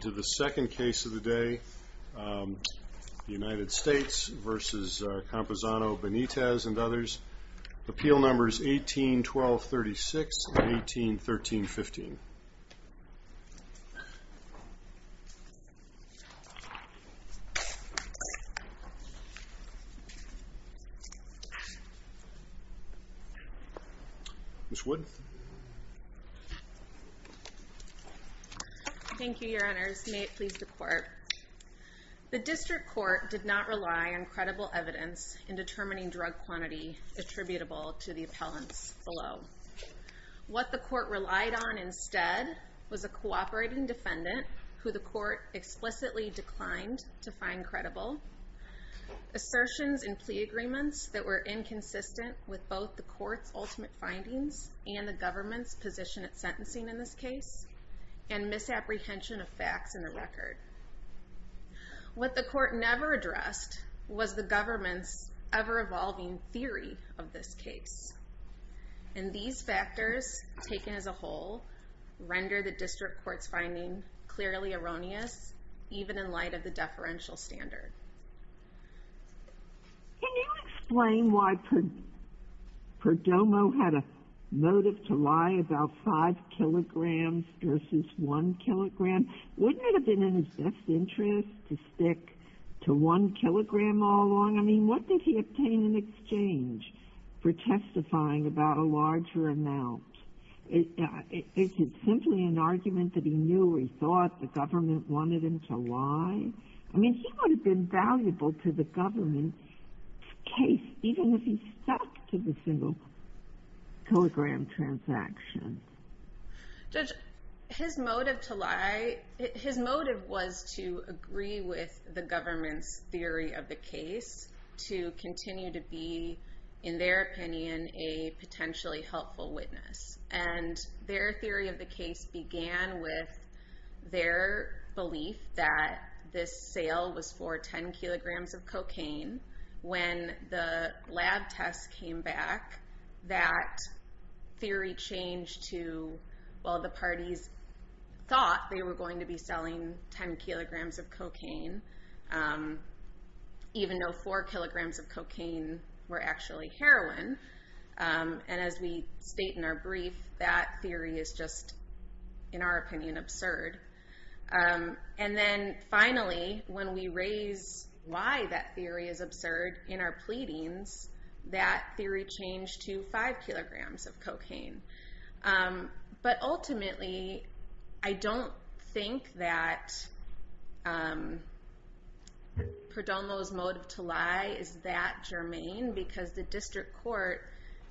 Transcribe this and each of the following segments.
to the second case of the day, the United States v. Campuzano-Benitez and others. Appeal numbers 18-12-36 and 18-13-15. Ms. Wood? Thank you, your honors. May it please the court. The district court did not rely on credible evidence in determining drug quantity attributable to the appellants below. What the court relied on instead was a cooperating defendant who the court explicitly declined to find credible, assertions in plea agreements that were inconsistent with both the court's ultimate findings and the government's position at sentencing in this case, and misapprehension of facts in the record. What the court never addressed was the government's ever-evolving theory of this case. And these factors, taken as a whole, render the district court's finding clearly erroneous, even in light of the deferential standard. Can you explain why Perdomo had a motive to lie about 5 kilograms versus 1 kilogram? Wouldn't it have been in his best interest to stick to 1 kilogram all along? I mean, what did he obtain in exchange for testifying about a larger amount? Is it simply an argument that he knew or he thought the government wanted him to lie? I mean, he would have been valuable to the government's case, even if he stuck to the single-kilogram transaction. Judge, his motive was to agree with the government's theory of the case to continue to be, in their opinion, a potentially helpful witness. And their theory of the case began with their belief that this sale was for 10 kilograms of cocaine. When the lab tests came back, that theory changed to, well, the parties thought they were going to be selling 10 kilograms of cocaine, even though 4 kilograms of cocaine were actually heroin. And as we state in our brief, that theory is just, in our opinion, absurd. And then finally, when we raise why that theory is absurd in our pleadings, that theory changed to 5 kilograms of cocaine. But ultimately, I don't think that Perdomo's motive to lie is that germane, because the district court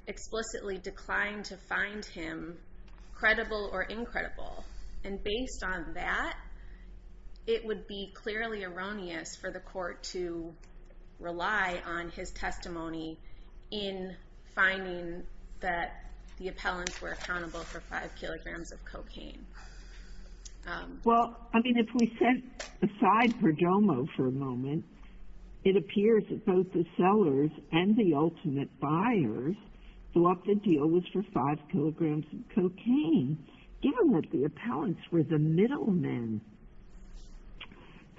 explicitly declined to find him credible or incredible. And based on that, it would be clearly erroneous for the court to rely on his testimony in finding that the appellants were accountable for 5 kilograms of cocaine. Well, I mean, if we set aside Perdomo for a moment, it appears that both the sellers and the ultimate buyers thought the deal was for 5 kilograms of cocaine. Given that the appellants were the middlemen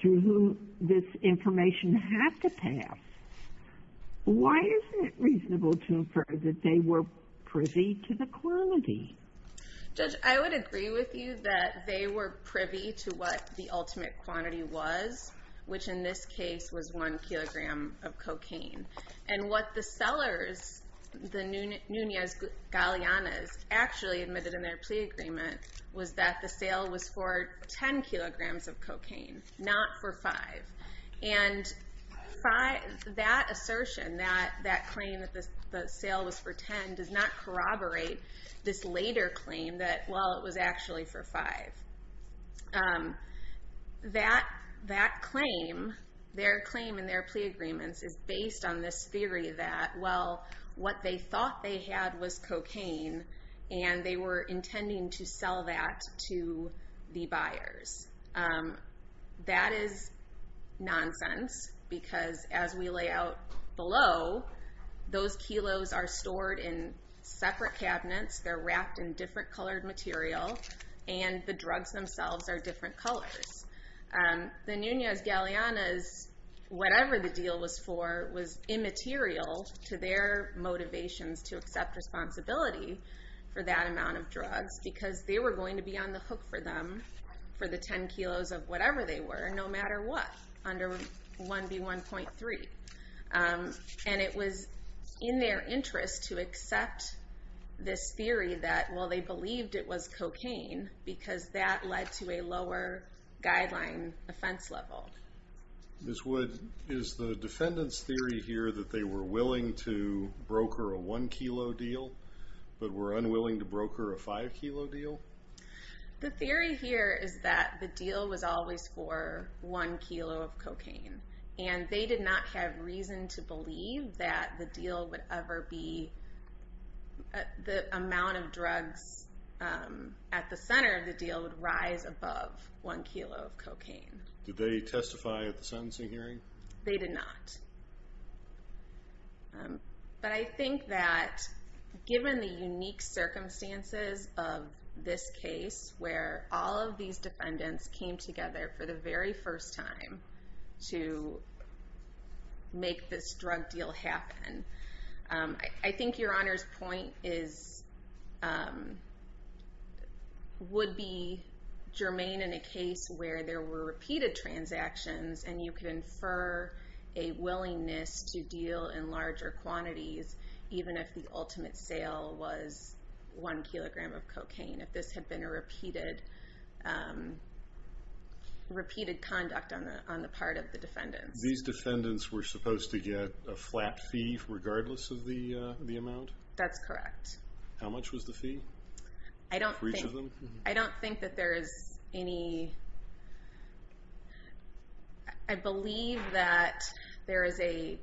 through whom this information had to pass, why is it reasonable to infer that they were privy to the quantity? Judge, I would agree with you that they were privy to what the ultimate quantity was, and what the sellers, the Nunez-Galeanas, actually admitted in their plea agreement was that the sale was for 10 kilograms of cocaine, not for 5. And that assertion, that claim that the sale was for 10, does not corroborate this later claim that, well, it was actually for 5. That claim, their claim in their plea agreements is based on this theory that, well, what they thought they had was cocaine, and they were intending to sell that to the buyers. That is nonsense, because as we lay out below, those kilos are stored in separate cabinets, they're wrapped in different colored material, and the drugs themselves are different colors. The Nunez-Galeanas, whatever the deal was for, was immaterial to their motivations to accept responsibility for that amount of drugs, because they were going to be on the hook for them for the 10 kilos of whatever they were, no matter what, under 1B1.3. And it was in their interest to accept this theory that, well, they believed it was cocaine, because that led to a lower guideline offense level. Ms. Wood, is the defendant's theory here that they were willing to broker a 1 kilo deal, but were unwilling to broker a 5 kilo deal? The theory here is that the deal was always for 1 kilo of cocaine, and they did not have reason to believe that the amount of drugs at the center of the deal would rise above 1 kilo of cocaine. Did they testify at the sentencing hearing? They did not. But I think that, given the unique circumstances of this case, where all of these defendants came together for the very first time to make this drug deal happen, I think Your Honor's point would be germane in a case where there were repeated transactions, and you could infer a willingness to deal in larger quantities, even if the ultimate sale was 1 kilogram of cocaine. If this had been a repeated conduct on the part of the defendants. These defendants were supposed to get a flat fee regardless of the amount? That's correct. How much was the fee for each of them? I don't think that there is any... I believe that there is a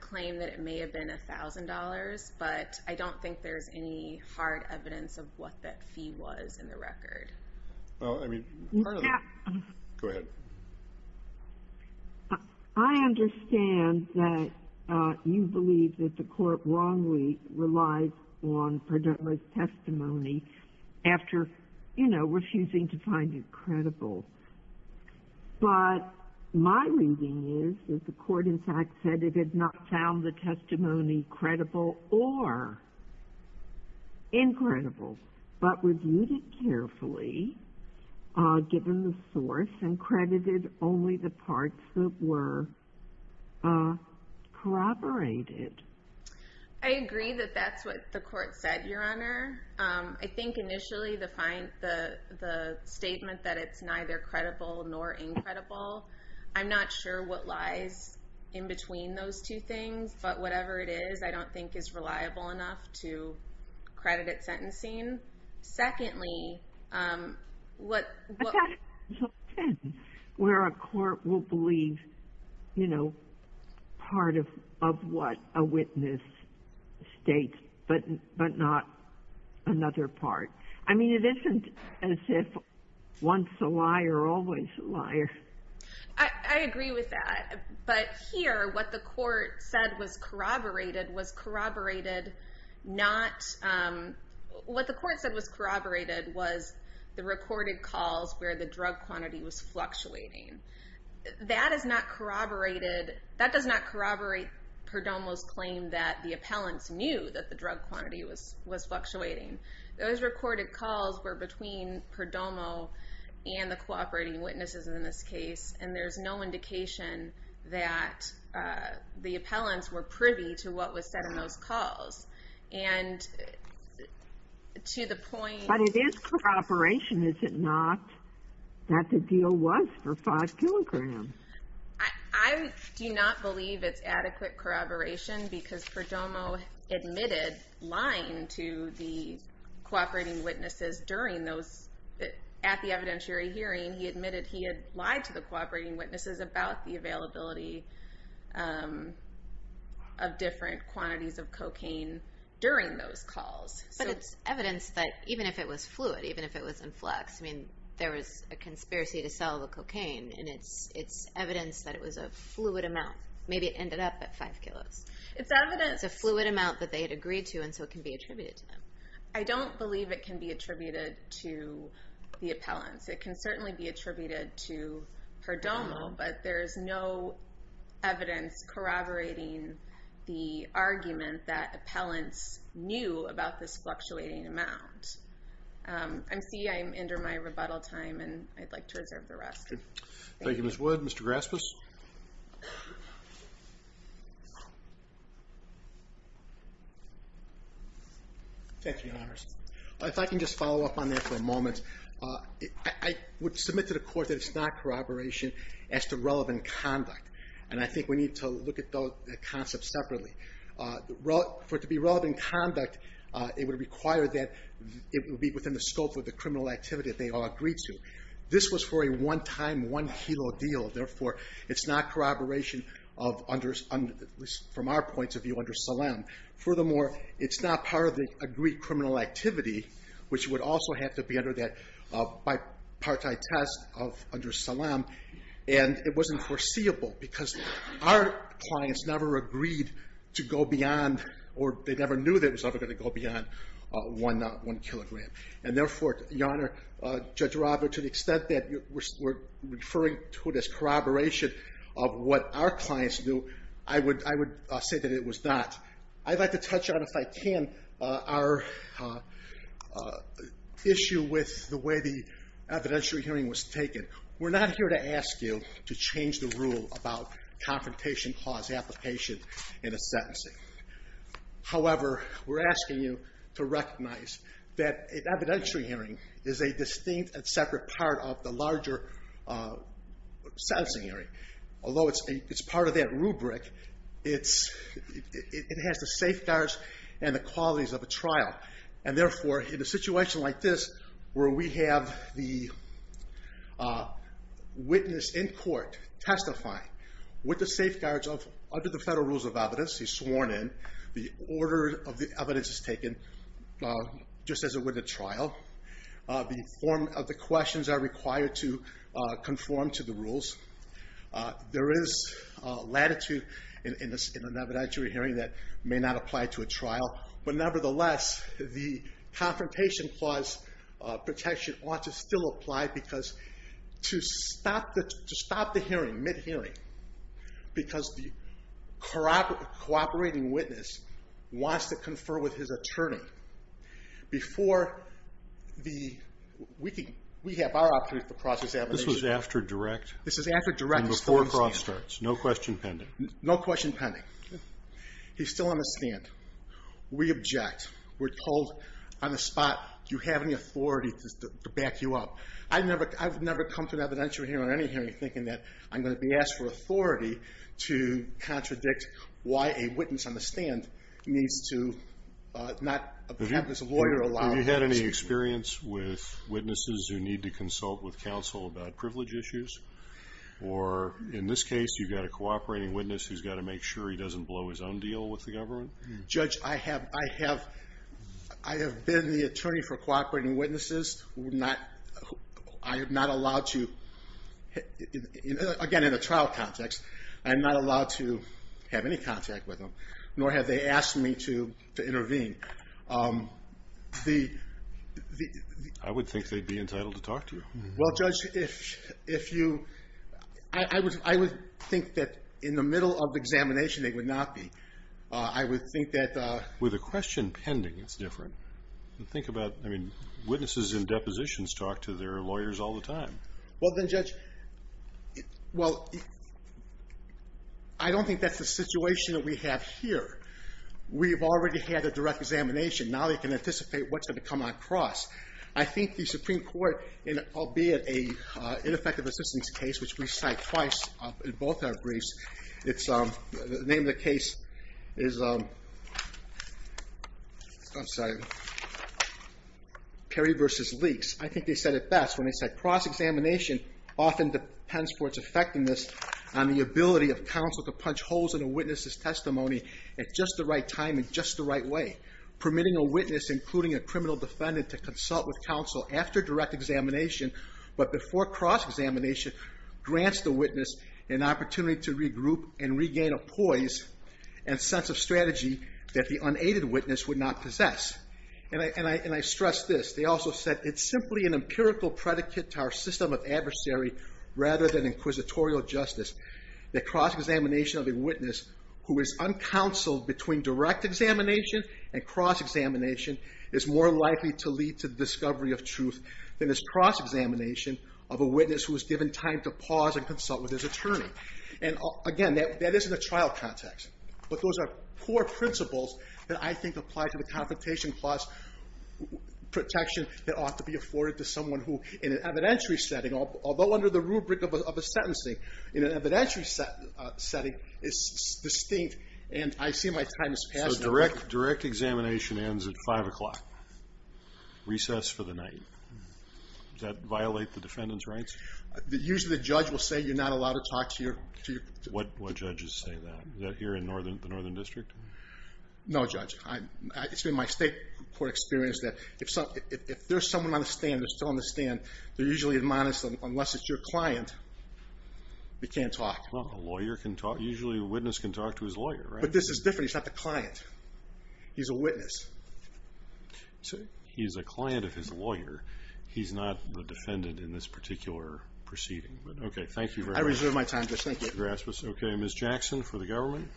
claim that it may have been $1,000, but I don't think there's any hard evidence of what that fee was in the record. Go ahead. I understand that you believe that the court wrongly relied on Pradilla's testimony after refusing to find it credible. But my reading is that the court in fact said it had not found the testimony credible or incredible, but reviewed it carefully, given the source, and credited only the parts that were corroborated. I agree that that's what the court said, Your Honor. I think initially the statement that it's neither credible nor incredible, I'm not sure what lies in between those two things, but whatever it is, I don't think is reliable enough to credit it sentencing. Secondly, what... That's where a court will believe part of what a witness states, but not another part. I mean, it isn't as if once a liar, always a liar. I agree with that, but here what the court said was corroborated not... What the court said was corroborated was the recorded calls where the drug quantity was fluctuating. That does not corroborate Perdomo's claim that the appellants knew that the drug quantity was fluctuating. Those recorded calls were between Perdomo and the cooperating witnesses in this case, and there's no indication that the appellants were privy to what was said in those calls. And to the point... But it is corroboration, is it not, that the deal was for five kilograms? I do not believe it's adequate corroboration, because Perdomo admitted lying to the cooperating witnesses during those... to the cooperating witnesses about the availability of different quantities of cocaine during those calls. But it's evidence that even if it was fluid, even if it was in flux, I mean, there was a conspiracy to sell the cocaine, and it's evidence that it was a fluid amount. Maybe it ended up at five kilos. It's evidence... It's a fluid amount that they had agreed to, and so it can be attributed to them. I don't believe it can be attributed to the appellants. It can certainly be attributed to Perdomo, but there's no evidence corroborating the argument that appellants knew about this fluctuating amount. I see I'm under my rebuttal time, and I'd like to reserve the rest. Thank you, Ms. Wood. Mr. Graspis? Thank you, Your Honors. If I can just follow up on that for a moment. I would submit to the Court that it's not corroboration as to relevant conduct, and I think we need to look at those concepts separately. For it to be relevant conduct, it would require that it would be within the scope of the criminal activity that they all agreed to. This was for a one-time, one-kilo deal. Therefore, it's not corroboration from our point of view under Salem. Furthermore, it's not part of the agreed criminal activity, which would also have to be under that bipartite test under Salem, and it wasn't foreseeable because our clients never agreed to go beyond or they never knew that it was ever going to go beyond one kilogram. And therefore, Your Honor, Judge Rava, to the extent that we're referring to it as corroboration of what our clients knew, I would say that it was not. I'd like to touch on, if I can, our issue with the way the evidentiary hearing was taken. We're not here to ask you to change the rule about confrontation clause application in a sentencing. However, we're asking you to recognize that an evidentiary hearing is a distinct and separate part of the larger sentencing hearing. Although it's part of that rubric, it has the safeguards and the qualities of a trial. And therefore, in a situation like this, where we have the witness in court testifying with the safeguards of under the federal rules of evidence he's sworn in, the order of the evidence is taken just as it were the trial, the form of the questions are required to conform to the rules. There is latitude in an evidentiary hearing that may not apply to a trial. But nevertheless, the confrontation clause protection ought to still apply because to stop the hearing, mid-hearing, because the cooperating witness wants to confer with his attorney. Before the, we have our opportunity for process abidance. This was after direct? This is after direct. And before process starts. No question pending. No question pending. He's still on the stand. We object. We're told on the spot, do you have any authority to back you up? I've never come to an evidentiary hearing or any hearing thinking that I'm going to be asked for authority to contradict why a witness on the stand needs to not have his lawyer allow him. Have you had any experience with witnesses who need to consult with counsel about privilege issues? Or in this case, you've got a cooperating witness who's got to make sure he doesn't blow his own deal with the government? Judge, I have been the attorney for cooperating witnesses. I am not allowed to, again, in a trial context, I am not allowed to have any contact with them, nor have they asked me to intervene. I would think they'd be entitled to talk to you. Well, Judge, if you, I would think that in the middle of examination they would not be. I would think that the With a question pending, it's different. Think about, I mean, witnesses in depositions talk to their lawyers all the time. Well, then, Judge, well, I don't think that's the situation that we have here. We've already had a direct examination. Now they can anticipate what's going to come on cross. I think the Supreme Court, albeit an ineffective assistance case, which we cite twice in both our briefs, the name of the case is Perry v. Leakes. I think they said it best when they said cross-examination often depends for its effectiveness on the ability of counsel to punch holes in a witness's testimony at just the right time in just the right way, permitting a witness, including a criminal defendant, to consult with counsel after direct examination but before cross-examination grants the witness an opportunity to regroup and regain a poise and sense of strategy that the unaided witness would not possess. And I stress this. They also said it's simply an empirical predicate to our system of adversary rather than inquisitorial justice that cross-examination of a witness who is uncounseled between direct examination and cross-examination is more likely to lead to the discovery of truth than is cross-examination of a witness who is given time to pause and consult with his attorney. And, again, that is in a trial context. But those are poor principles that I think apply to the Confrontation Clause protection that ought to be afforded to someone who, in an evidentiary setting, although under the rubric of a sentencing, in an evidentiary setting, is distinct. And I see my time is passing. So direct examination ends at 5 o'clock, recess for the night. Does that violate the defendant's rights? Usually the judge will say you're not allowed to talk to your... What judges say that? Is that here in the Northern District? No, Judge. It's been my state court experience that if there's someone on the stand, they're still on the stand, they're usually admonished that unless it's your client, they can't talk. Well, a lawyer can talk. Usually a witness can talk to his lawyer, right? But this is different. He's not the client. He's a witness. He's a client of his lawyer. He's not the defendant in this particular proceeding. But, okay, thank you very much. I reserve my time, Judge. Thank you. Okay, Ms. Jackson for the government.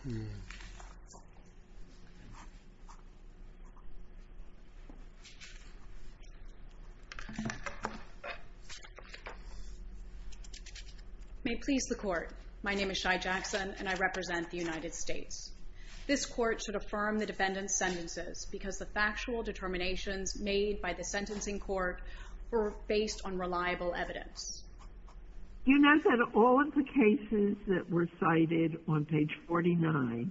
May it please the Court. My name is Shai Jackson, and I represent the United States. This Court should affirm the defendant's sentences because the factual determinations made by the sentencing court were based on reliable evidence. Do you know that all of the cases that were cited on page 49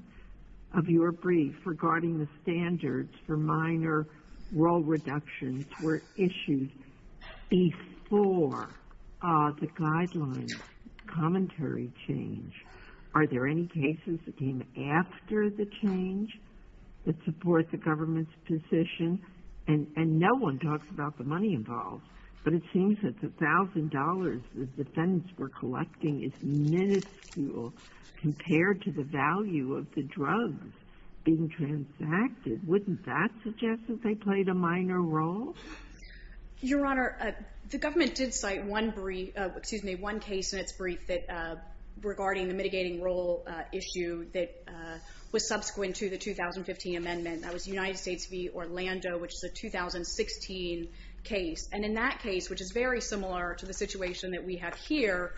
of your brief regarding the standards for minor role reductions were issued before the guidelines commentary change? Are there any cases that came after the change that support the government's position? And no one talks about the money involved, but it seems that the $1,000 the defendants were collecting is miniscule compared to the value of the drugs being transacted. Wouldn't that suggest that they played a minor role? Your Honor, the government did cite one case in its brief regarding the mitigating role issue that was subsequent to the 2015 amendment. That was United States v. Orlando, which is a 2016 case. And in that case, which is very similar to the situation that we have here,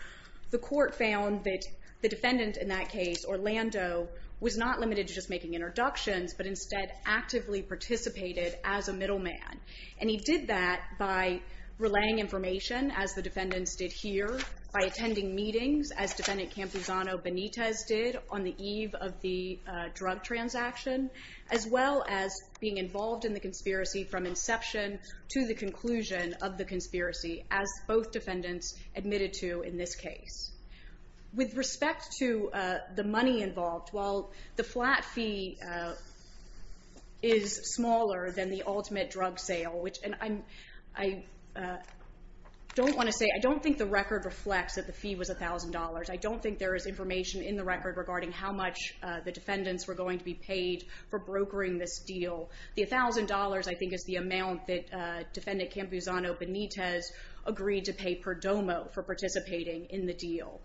was not limited to just making introductions, but instead actively participated as a middleman. And he did that by relaying information, as the defendants did here, by attending meetings, as Defendant Campuzano-Benitez did on the eve of the drug transaction, as well as being involved in the conspiracy from inception to the conclusion of the conspiracy, as both defendants admitted to in this case. With respect to the money involved, while the flat fee is smaller than the ultimate drug sale, which I don't want to say, I don't think the record reflects that the fee was $1,000. I don't think there is information in the record regarding how much the defendants were going to be paid for brokering this deal. The $1,000, I think, is the amount that Defendant Campuzano-Benitez agreed to pay per domo for participating in the deal.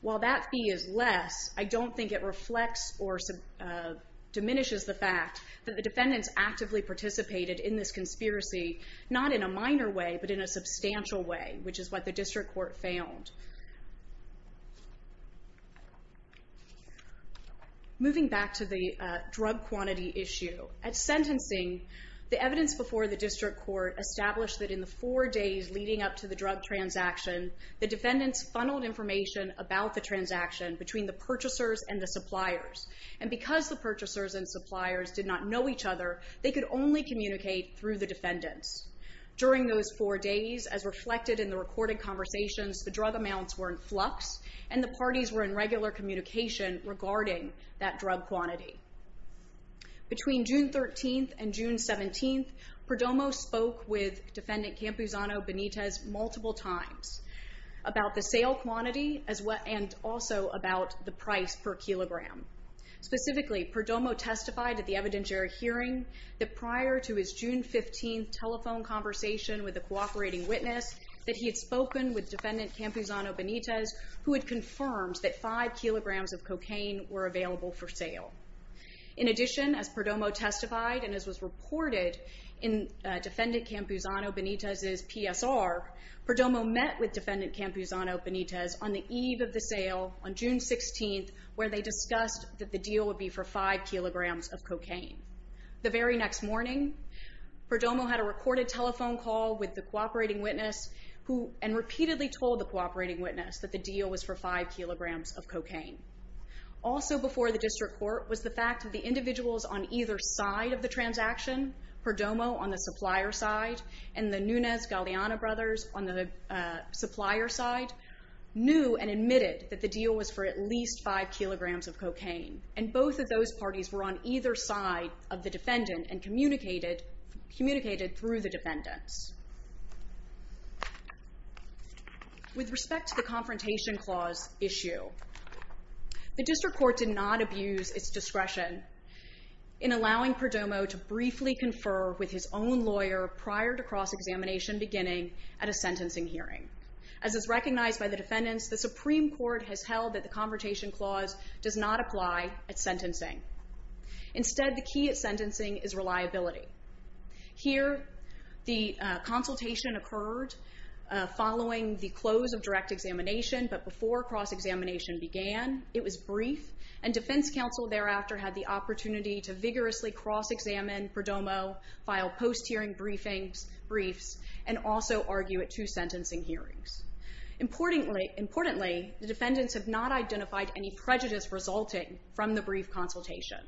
While that fee is less, I don't think it reflects or diminishes the fact that the defendants actively participated in this conspiracy, not in a minor way, but in a substantial way, which is what the District Court found. Moving back to the drug quantity issue, at sentencing, the evidence before the District Court established that in the four days leading up to the drug transaction, the defendants funneled information about the transaction between the purchasers and the suppliers. And because the purchasers and suppliers did not know each other, they could only communicate through the defendants. During those four days, as reflected in the recorded conversations, the drug amounts were in flux and the parties were in regular communication regarding that drug quantity. Between June 13th and June 17th, Perdomo spoke with Defendant Campuzano-Benitez multiple times about the sale quantity and also about the price per kilogram. Specifically, Perdomo testified at the evidentiary hearing that prior to his June 15th telephone conversation with a cooperating witness, that he had spoken with Defendant Campuzano-Benitez, who had confirmed that five kilograms of cocaine were available for sale. In addition, as Perdomo testified and as was reported in Defendant Campuzano-Benitez's PSR, Perdomo met with Defendant Campuzano-Benitez on the eve of the sale, on June 16th, where they discussed that the deal would be for five kilograms of cocaine. The very next morning, Perdomo had a recorded telephone call with the cooperating witness and repeatedly told the cooperating witness that the deal was for five kilograms of cocaine. Also before the district court was the fact that the individuals on either side of the transaction, Perdomo on the supplier side and the Nunez-Galeano brothers on the supplier side, knew and admitted that the deal was for at least five kilograms of cocaine. And both of those parties were on either side of the defendant and communicated through the defendants. With respect to the Confrontation Clause issue, the district court did not abuse its discretion in allowing Perdomo to briefly confer with his own lawyer prior to cross-examination beginning at a sentencing hearing. As is recognized by the defendants, the Supreme Court has held that the Confrontation Clause does not apply at sentencing. Instead, the key at sentencing is reliability. Here, the consultation occurred following the close of direct examination, but before cross-examination began, it was brief, and defense counsel thereafter had the opportunity to vigorously cross-examine Perdomo, file post-hearing briefs, and also argue at two sentencing hearings. Importantly, the defendants have not identified any prejudice resulting from the brief consultation.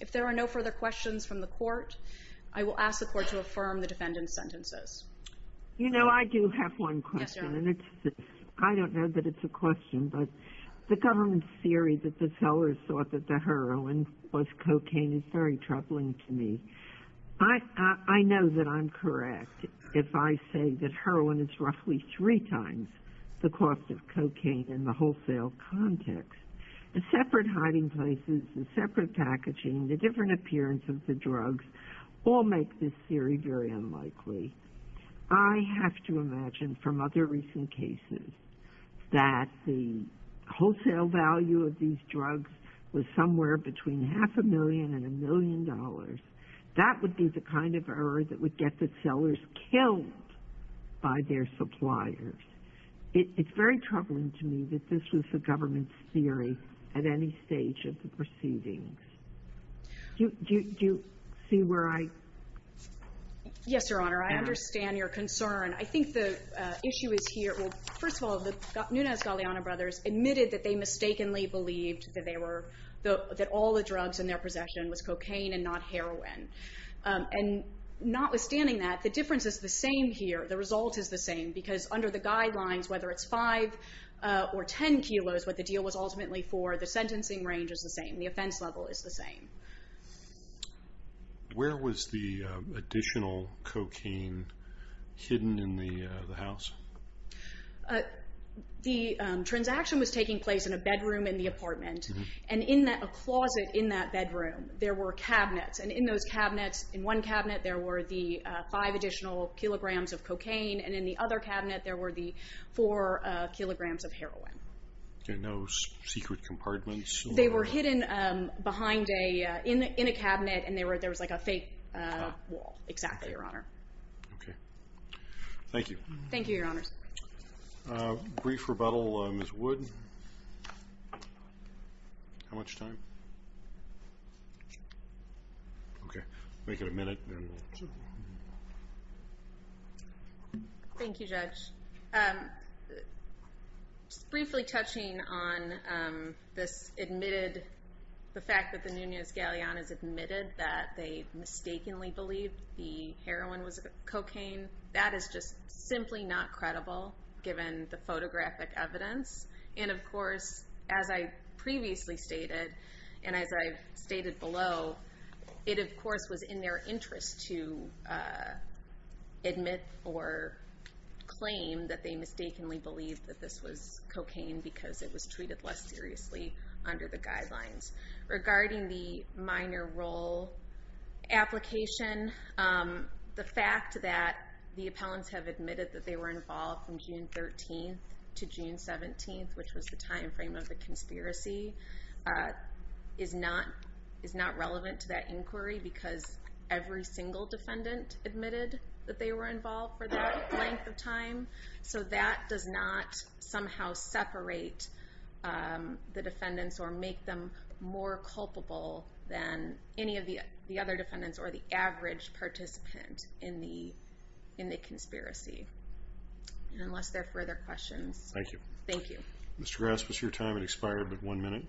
If there are no further questions from the court, I will ask the court to affirm the defendant's sentences. You know, I do have one question. Yes, Your Honor. I don't know that it's a question, but the government theory that the sellers thought that the heroin was cocaine is very troubling to me. I know that I'm correct if I say that heroin is roughly three times the cost of cocaine in the wholesale context. The separate hiding places, the separate packaging, the different appearance of the drugs all make this theory very unlikely. I have to imagine from other recent cases that the wholesale value of these drugs was somewhere between half a million and a million dollars. That would be the kind of error that would get the sellers killed by their suppliers. It's very troubling to me that this was the government's theory at any stage of the proceedings. Do you see where I am? Yes, Your Honor. I understand your concern. I think the issue is here. Well, first of all, the Nunez-Galeano brothers admitted that they mistakenly believed that all the drugs in their possession was cocaine and not heroin. And notwithstanding that, the difference is the same here. The result is the same because under the guidelines, whether it's five or ten kilos, what the deal was ultimately for, the sentencing range is the same. The offense level is the same. Where was the additional cocaine hidden in the house? The transaction was taking place in a bedroom in the apartment. And in a closet in that bedroom, there were cabinets. And in those cabinets, in one cabinet, there were the five additional kilograms of cocaine. And in the other cabinet, there were the four kilograms of heroin. No secret compartments? They were hidden in a cabinet, and there was like a fake wall. Exactly, Your Honor. Okay. Thank you. Thank you, Your Honors. Brief rebuttal, Ms. Wood. How much time? Okay. Make it a minute. Thank you, Judge. Briefly touching on this admitted, the fact that the Nunez-Galleones admitted that they mistakenly believed the heroin was cocaine, that is just simply not credible, given the photographic evidence. And, of course, as I previously stated, and as I've stated below, it, of course, was in their interest to admit or claim that they mistakenly believed that this was cocaine because it was treated less seriously under the guidelines. Regarding the minor role application, the fact that the appellants have admitted that they were involved from June 13th to June 17th, which was the time frame of the conspiracy, is not relevant to that inquiry because every single defendant admitted that they were involved for that length of time. So that does not somehow separate the defendants or make them more culpable than any of the other defendants or the average participant in the conspiracy. Unless there are further questions. Thank you. Thank you. Mr. Grass, what's your time? It expired at one minute.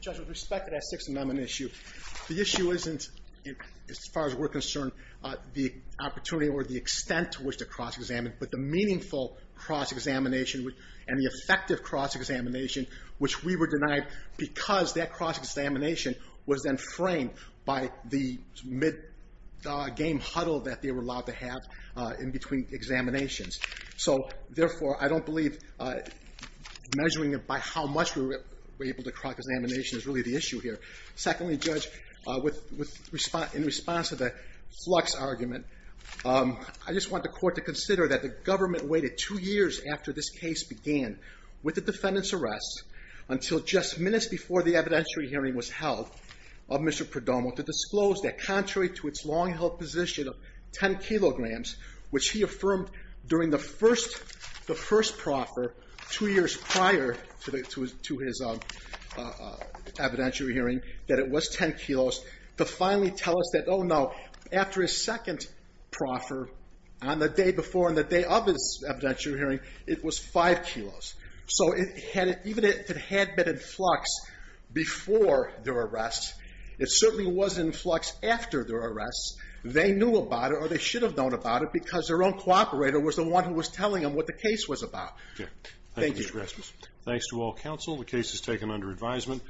Judge, with respect to that Sixth Amendment issue, the issue isn't, as far as we're concerned, the opportunity or the extent to which to cross-examine, but the meaningful cross-examination and the effective cross-examination, which we were denied because that cross-examination was then framed by the mid-game huddle that they were allowed to have in between examinations. So, therefore, I don't believe measuring it by how much we were able to cross-examination is really the issue here. Secondly, Judge, in response to the flux argument, I just want the Court to consider that the government waited two years after this case began with the defendant's arrest until just minutes before the evidentiary hearing was held of Mr. Perdomo to disclose that contrary to its long-held position of 10 kilograms, which he affirmed during the first proffer two years prior to his evidentiary hearing that it was 10 kilos, to finally tell us that, oh, no, after his second proffer, on the day before and the day of his evidentiary hearing, it was 5 kilos. So even if it had been in flux before their arrest, it certainly was in flux after their arrest. They knew about it, or they should have known about it, because their own cooperator was the one who was telling them what the case was about. Thank you. Thanks to all counsel. The case is taken under advisement.